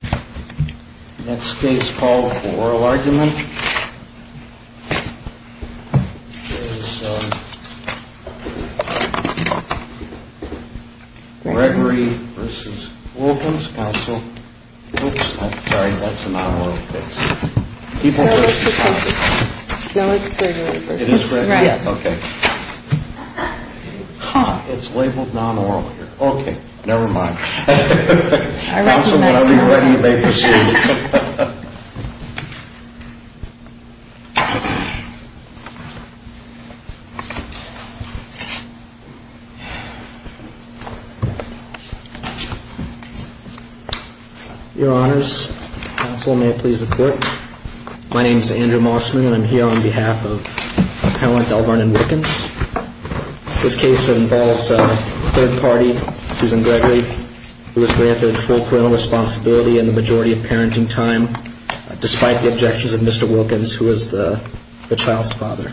The next case called for oral argument is Gregory v. Wilkins. Counsel, whoops, I'm sorry, that's a non-oral case. People versus property. No, it's Gregory v. Wilkins. It is Gregory? Yes. Okay. It's labeled non-oral here. Okay, never mind. I recognize that. Your honors, counsel, may I please report? My name is Andrew Mossman and I'm here on behalf of Appellant L. Vernon Wilkins. This case involves a third party, Susan Gregory, who was granted full parental responsibility in the majority of parenting time, despite the objections of Mr. Wilkins, who is the child's father.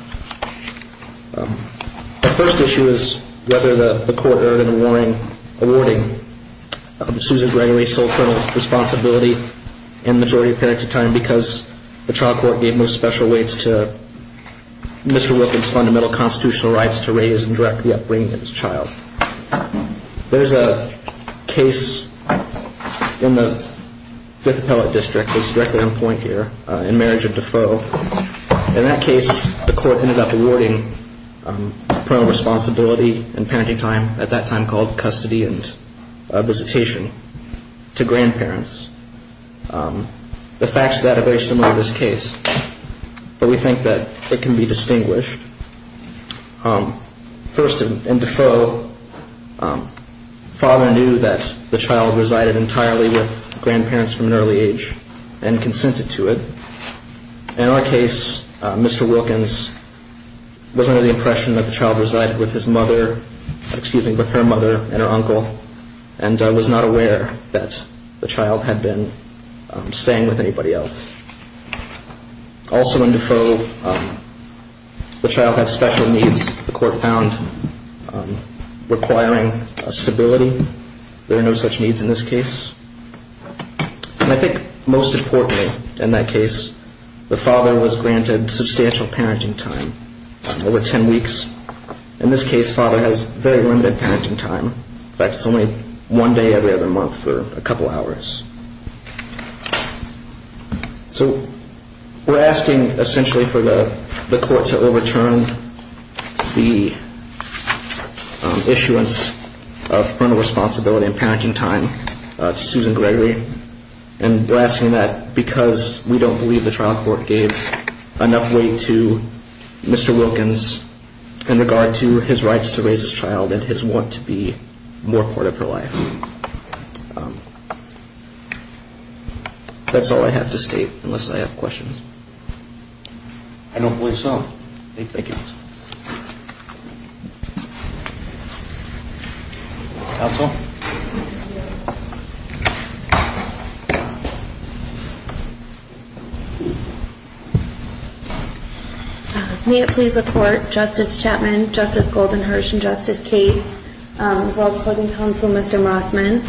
The first issue is whether the court earned an awarding Susan Gregory full parental responsibility in the majority of parenting time because the trial court gave no special weights to Mr. Wilkins' fundamental constitutional rights to raise and direct the upbringing of his child. There's a case in the Fifth Appellate District that's directly on point here in marriage and deferral. In that case, the court ended up awarding parental responsibility in parenting time, at that time called custody and visitation, to grandparents. The facts of that are very similar to this case, but we think that it can be distinguished. First, in deferral, father knew that the child resided entirely with grandparents from an early age and consented to it. In our case, Mr. Wilkins was under the impression that the child resided with his mother, excuse me, with her mother and her uncle, and was not aware that the child had been staying with anybody else. Also in deferral, the child had special needs, the court found, requiring stability. There are no such needs in this case. And I think most importantly in that case, the father was granted substantial parenting time, over 10 weeks. In this case, father has very limited parenting time. In fact, it's only one day every other month for a couple hours. So we're asking essentially for the court to overturn the issuance of parental responsibility and parenting time to Susan Gregory. And we're asking that because we don't believe the trial court gave enough weight to Mr. Wilkins in regard to his rights to raise his child and his want to be more part of her life. That's all I have to state, unless I have questions. I don't believe so. Thank you. Counsel. May it please the court, Justice Chapman, Justice Goldenhirsch, and Justice Cates, as well as Closing Counsel Mr. Mossman.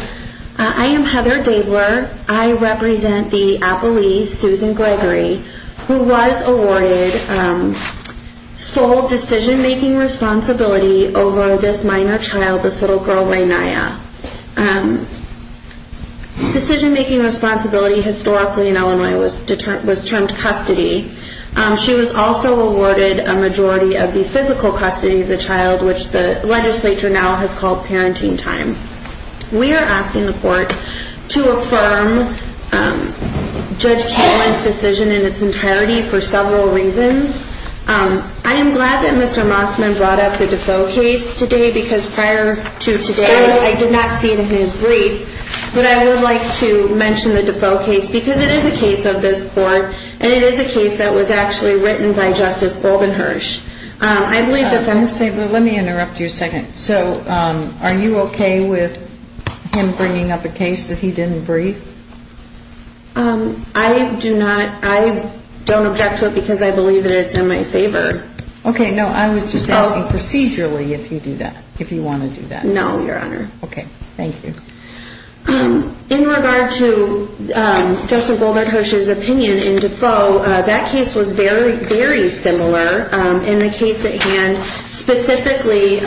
I am Heather Dabler. I represent the appellee, Susan Gregory, who was awarded sole decision-making responsibility over this minor child, this little girl, La'Nya. Decision-making responsibility historically in Illinois was termed custody. She was also awarded a majority of the physical custody of the child, which the legislature now has called parenting time. We are asking the court to affirm Judge Cate's decision in its entirety for several reasons. I am glad that Mr. Mossman brought up the Defoe case today because prior to today I did not see it in his brief. But I would like to mention the Defoe case because it is a case of this court, and it is a case that was actually written by Justice Goldenhirsch. Let me interrupt you a second. So are you okay with him bringing up a case that he didn't brief? I don't object to it because I believe that it's in my favor. Okay. No, I was just asking procedurally if you do that, if you want to do that. No, Your Honor. Okay. Thank you. In regard to Justice Goldenhirsch's opinion in Defoe, that case was very, very similar in the case at hand. Specifically,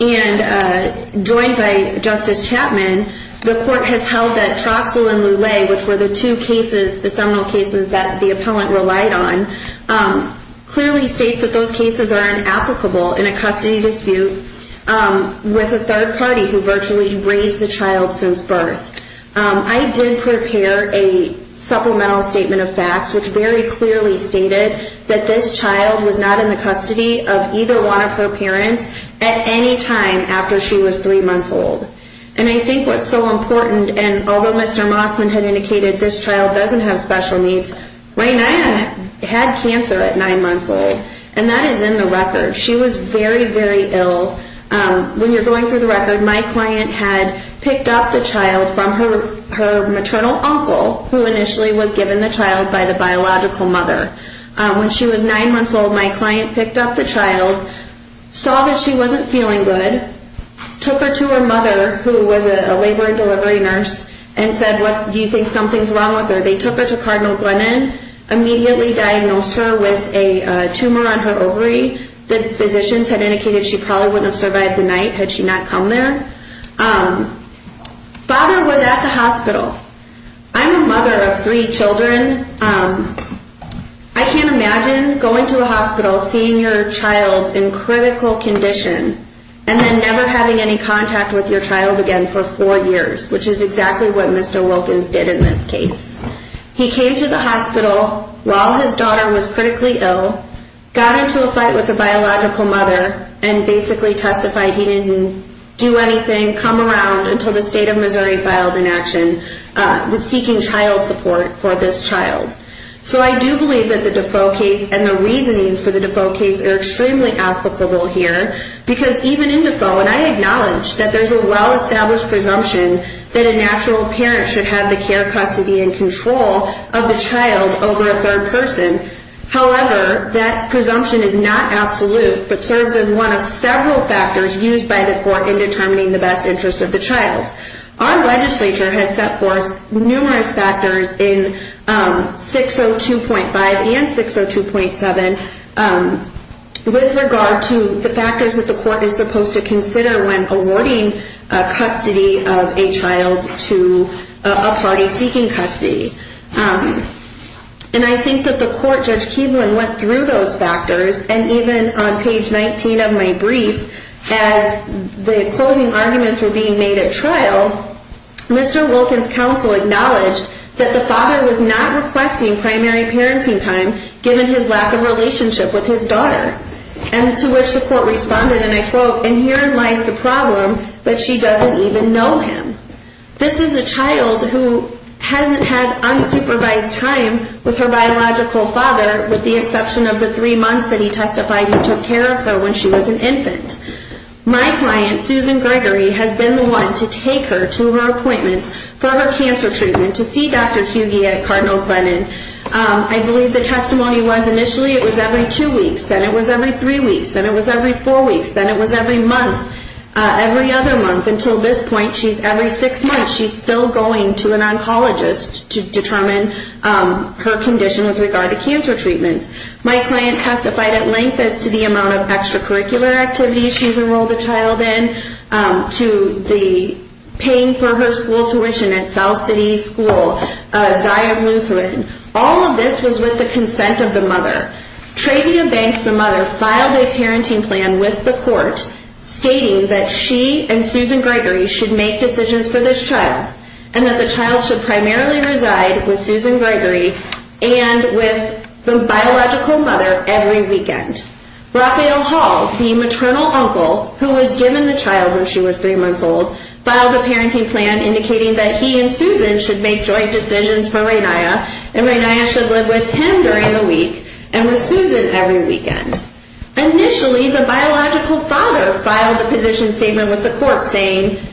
and joined by Justice Chapman, the court has held that Troxell and Lule, which were the two cases, the seminal cases that the appellant relied on, clearly states that those cases are inapplicable in a custody dispute with a third party who virtually raised the child since birth. I did prepare a supplemental statement of facts which very clearly stated that this child was not in the custody of either one of her parents at any time after she was three months old. And I think what's so important, and although Mr. Mossman had indicated this child doesn't have special needs, Rayna had cancer at nine months old, and that is in the record. She was very, very ill. When you're going through the record, my client had picked up the child from her maternal uncle, who initially was given the child by the biological mother. When she was nine months old, my client picked up the child, saw that she wasn't feeling good, took her to her mother, who was a labor and delivery nurse, and said, do you think something's wrong with her? They took her to Cardinal Glennon, immediately diagnosed her with a tumor on her ovary. The physicians had indicated she probably wouldn't have survived the night had she not come there. Father was at the hospital. I'm a mother of three children. I can't imagine going to a hospital, seeing your child in critical condition, and then never having any contact with your child again for four years, which is exactly what Mr. Wilkins did in this case. He came to the hospital while his daughter was critically ill, got into a fight with the biological mother, and basically testified he didn't do anything, come around until the state of Missouri filed an action seeking child support for this child. So I do believe that the Defoe case and the reasonings for the Defoe case are extremely applicable here because even in Defoe, and I acknowledge that there's a well-established presumption that a natural parent should have the care, custody, and control of the child over a third person. However, that presumption is not absolute, but serves as one of several factors used by the court in determining the best interest of the child. Our legislature has set forth numerous factors in 602.5 and 602.7 with regard to the factors that the court is supposed to consider when awarding custody of a child to a party seeking custody. And I think that the court, Judge Keeblin, went through those factors, and even on page 19 of my brief, as the closing arguments were being made at trial, Mr. Wilkins' counsel acknowledged that the father was not requesting primary parenting time given his lack of relationship with his daughter, and to which the court responded, and I quote, and herein lies the problem that she doesn't even know him. This is a child who hasn't had unsupervised time with her biological father with the exception of the three months that he testified he took care of her when she was an infant. My client, Susan Gregory, has been the one to take her to her appointments for her cancer treatment to see Dr. Hughey at Cardinal Glennon. I believe the testimony was initially it was every two weeks, then it was every three weeks, then it was every four weeks, then it was every month, every other month, until this point, she's every six months, she's still going to an oncologist to determine her condition with regard to cancer treatments. My client testified at length as to the amount of extracurricular activities she's enrolled a child in, to the paying for her school tuition at South City School, Zion Lutheran, all of this was with the consent of the mother. Travia Banks, the mother, filed a parenting plan with the court stating that she and Susan Gregory should make decisions for this child and that the child should primarily reside with Susan Gregory and with the biological mother every weekend. Rafael Hall, the maternal uncle who was given the child when she was three months old, filed a parenting plan indicating that he and Susan should make joint decisions for Raynia and Raynia should live with him during the week and with Susan every weekend. Initially, the biological father filed a position statement with the court saying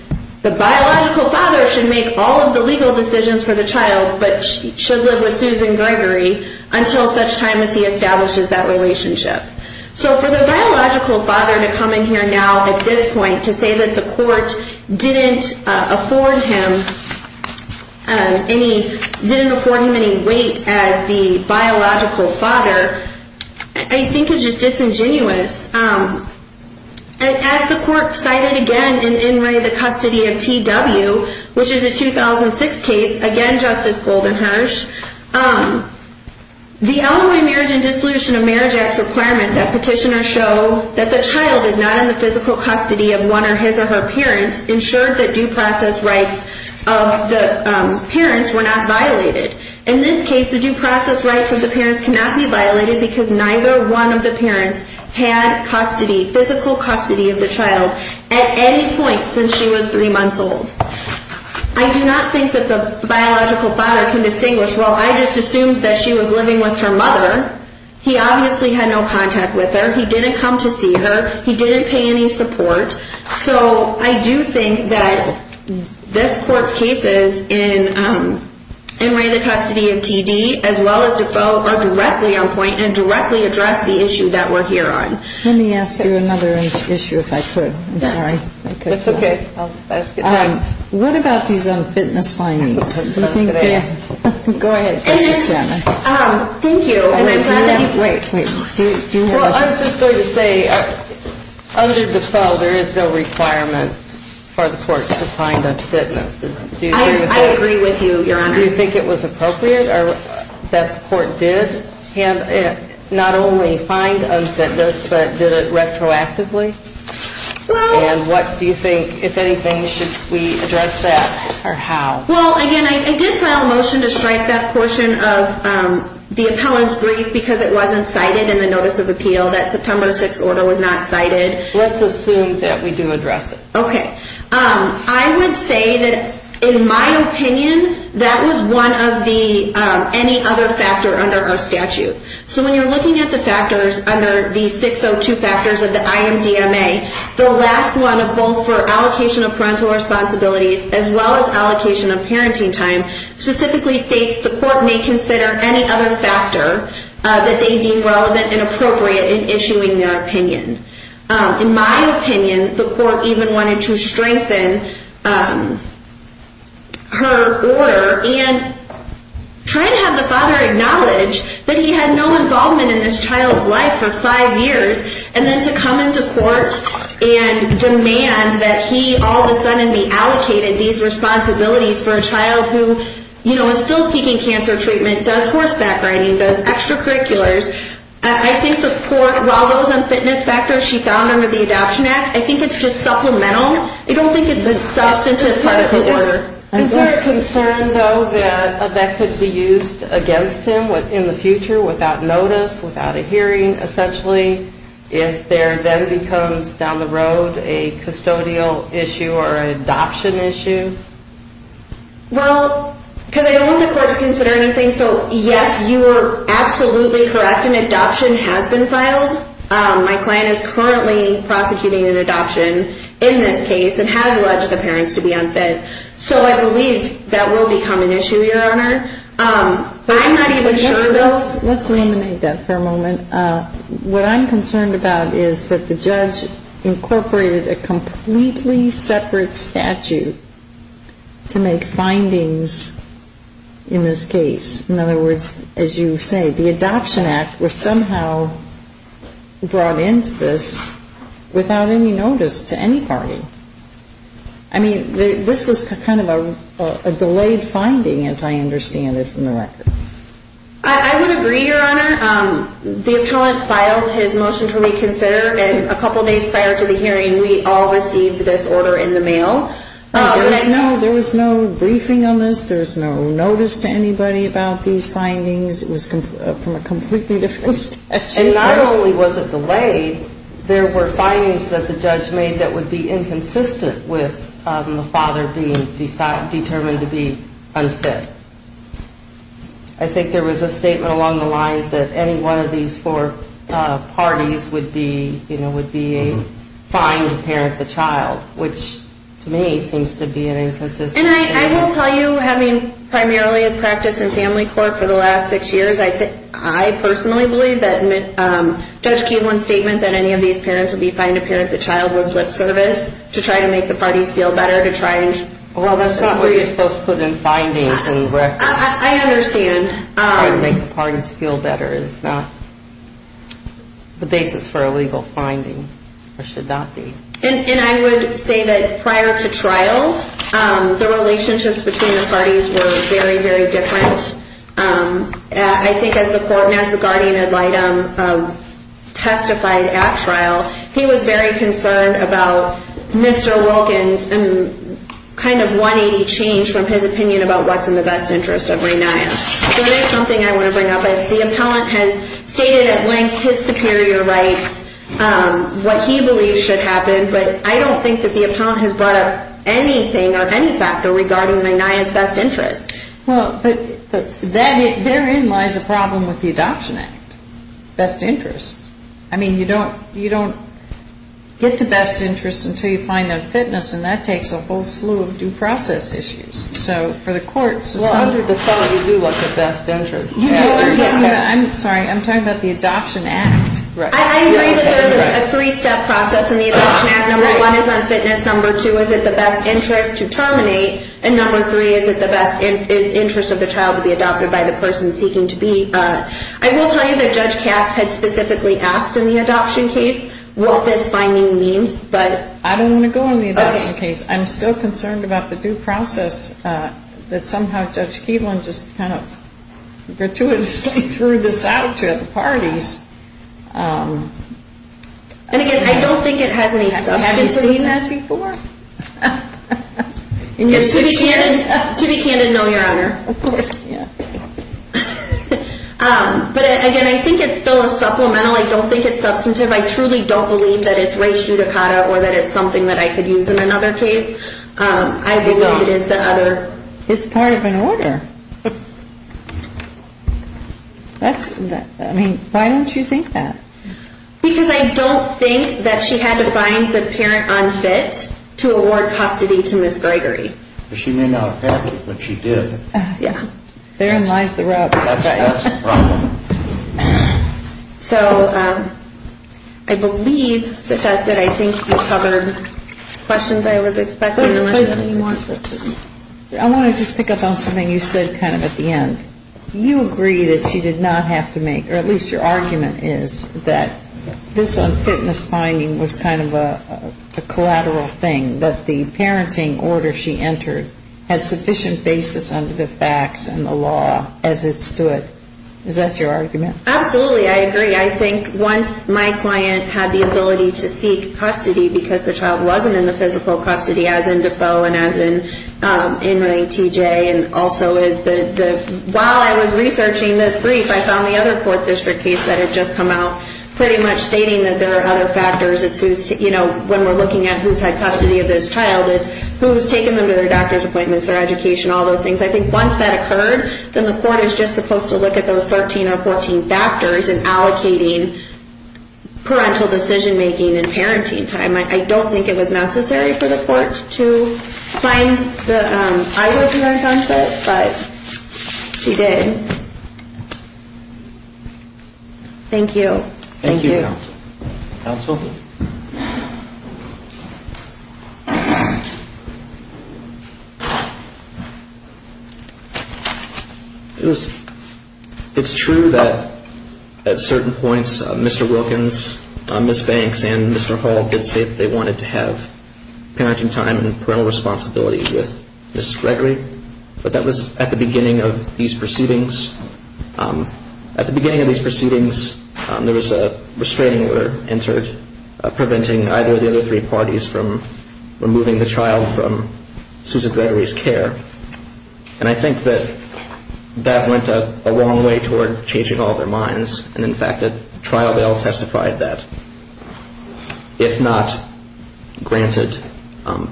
the biological father should make all of the legal decisions for the child but should live with Susan Gregory until such time as he establishes that relationship. So for the biological father to come in here now at this point to say that the court didn't afford him any weight as the biological father, I think is just disingenuous. As the court cited again in the custody of TW, which is a 2006 case, again Justice Goldenhersch, the Illinois Marriage and Dissolution of Marriage Act's requirement that petitioners show that the child is not in the physical custody of one of his or her parents ensured that due process rights of the parents were not violated. In this case, the due process rights of the parents cannot be violated because neither one of the parents had custody, physical custody of the child at any point since she was three months old. I do not think that the biological father can distinguish, well, I just assumed that she was living with her mother. He obviously had no contact with her. He didn't come to see her. He didn't pay any support. So I do think that this court's cases in Ray, the custody of TD, as well as Defoe are directly on point and directly address the issue that we're here on. Let me ask you another issue if I could. I'm sorry. That's okay. What about these fitness findings? Go ahead, Justice Shannon. Thank you. Wait, wait. Well, I was just going to say under Defoe there is no requirement for the court to find unfitness. I agree with you, Your Honor. Do you think it was appropriate that the court did not only find unfitness but did it retroactively? And what do you think, if anything, should we address that or how? Well, again, I did file a motion to strike that portion of the appellant's brief because it wasn't cited in the notice of appeal that September 6th order was not cited. Let's assume that we do address it. Okay. I would say that, in my opinion, that was one of the any other factor under our statute. So when you're looking at the factors under the 602 factors of the IMDMA, the last one, both for allocation of parental responsibilities as well as allocation of parenting time, specifically states the court may consider any other factor that they deem relevant and appropriate in issuing their opinion. In my opinion, the court even wanted to strengthen her order and try to have the father acknowledge that he had no involvement in this child's life for five years and then to come into court and demand that he, all of a sudden, be allocated these responsibilities for a child who, you know, is still seeking cancer treatment, does horseback riding, does extracurriculars. I think the court, while those unfitness factors she found under the Adoption Act, I think it's just supplemental. I don't think it's a substantive part of the order. Is there a concern, though, that that could be used against him in the future without notice, without a hearing, essentially, if there then becomes down the road a custodial issue or an adoption issue? Well, because I don't want the court to consider anything. So, yes, you are absolutely correct. An adoption has been filed. My client is currently prosecuting an adoption in this case and has alleged the parents to be unfit. So I believe that will become an issue, Your Honor. Let's eliminate that for a moment. What I'm concerned about is that the judge incorporated a completely separate statute to make findings in this case. In other words, as you say, the Adoption Act was somehow brought into this without any notice to any party. I mean, this was kind of a delayed finding, as I understand it, from the record. I would agree, Your Honor. The attorney filed his motion to reconsider, and a couple days prior to the hearing, we all received this order in the mail. There was no briefing on this. There was no notice to anybody about these findings. It was from a completely different statute. And not only was it delayed, there were findings that the judge made that would be inconsistent with the father being determined to be unfit. I think there was a statement along the lines that any one of these four parties would be, you know, would be fine to parent the child, which, to me, seems to be an inconsistent statement. And I will tell you, having primarily practiced in family court for the last six years, I personally believe that Judge Keeble's statement that any of these parents would be fine to parent the child was lip service, to try to make the parties feel better, to try and... Well, that's not what you're supposed to put in findings when you record... I understand. Trying to make the parties feel better is not the basis for a legal finding, or should not be. And I would say that prior to trial, the relationships between the parties were very, very different. I think as the court and as the guardian ad litem testified at trial, he was very concerned about Mr. Wolkin's kind of 180 change from his opinion about what's in the best interest of Ray Naya. So that's something I want to bring up. The appellant has stated at length his superior rights, what he believes should happen, but I don't think that the appellant has brought up anything or any factor regarding Ray Naya's best interest. Well, but therein lies a problem with the Adoption Act, best interest. I mean, you don't get to best interest until you find unfitness, and that takes a whole slew of due process issues. So for the courts... Well, under the federal, you do look at best interest. I'm sorry, I'm talking about the Adoption Act. I agree that there's a three-step process in the Adoption Act. Number one is unfitness, number two, is it the best interest to terminate, and number three, is it the best interest of the child to be adopted by the person seeking to be. I will tell you that Judge Katz had specifically asked in the adoption case what this finding means, but... I don't want to go into the adoption case. I'm still concerned about the due process that somehow Judge Keevlin just kind of gratuitously threw this out to at the parties. And again, I don't think it has any substance to it. Have you seen that before? To be candid, no, Your Honor. Of course not. But again, I think it's still a supplemental. I don't think it's substantive. I truly don't believe that it's res judicata or that it's something that I could use in another case. I believe it is the other... It's part of an order. I mean, why don't you think that? Because I don't think that she had to find the parent unfit to award custody to Ms. Gregory. She may not have found it, but she did. Yeah. Therein lies the rub. That's right. That's the problem. So I believe that that's it. I think you covered questions I was expecting, unless you have any more questions. I want to just pick up on something you said kind of at the end. You agree that she did not have to make, or at least your argument is, that this unfitness finding was kind of a collateral thing, that the parenting order she entered had sufficient basis under the facts and the law as it stood. Is that your argument? Absolutely. I agree. I think once my client had the ability to seek custody because the child wasn't in the physical custody, as in Defoe and as in T.J. And also while I was researching this brief, I found the other court district case that had just come out pretty much stating that there are other factors. When we're looking at who's had custody of this child, it's who's taken them to their doctor's appointments, their education, all those things. I think once that occurred, then the court is just supposed to look at those 13 or 14 factors in allocating parental decision-making and parenting time. I don't think it was necessary for the court to find the eyewitness on it, but she did. Thank you. Thank you, counsel. Counsel? It's true that at certain points Mr. Wilkins, Ms. Banks and Mr. Hall did say that they wanted to have parenting time and parental responsibility with Ms. Gregory, but that was at the beginning of these proceedings. At the beginning of these proceedings, there was a restraining order entered preventing either of the other three parties from removing the child from Susan Gregory's care. And I think that that went a long way toward changing all their minds, and in fact at trial they all testified that if not granted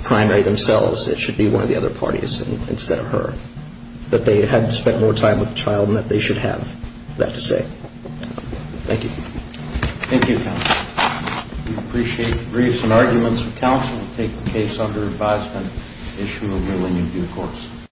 primary themselves, it should be one of the other parties instead of her, that they had spent more time with the child and that they should have that to say. Thank you. Thank you, counsel. We appreciate the briefs and arguments. Counsel will take the case under advisement and issue a ruling in due course.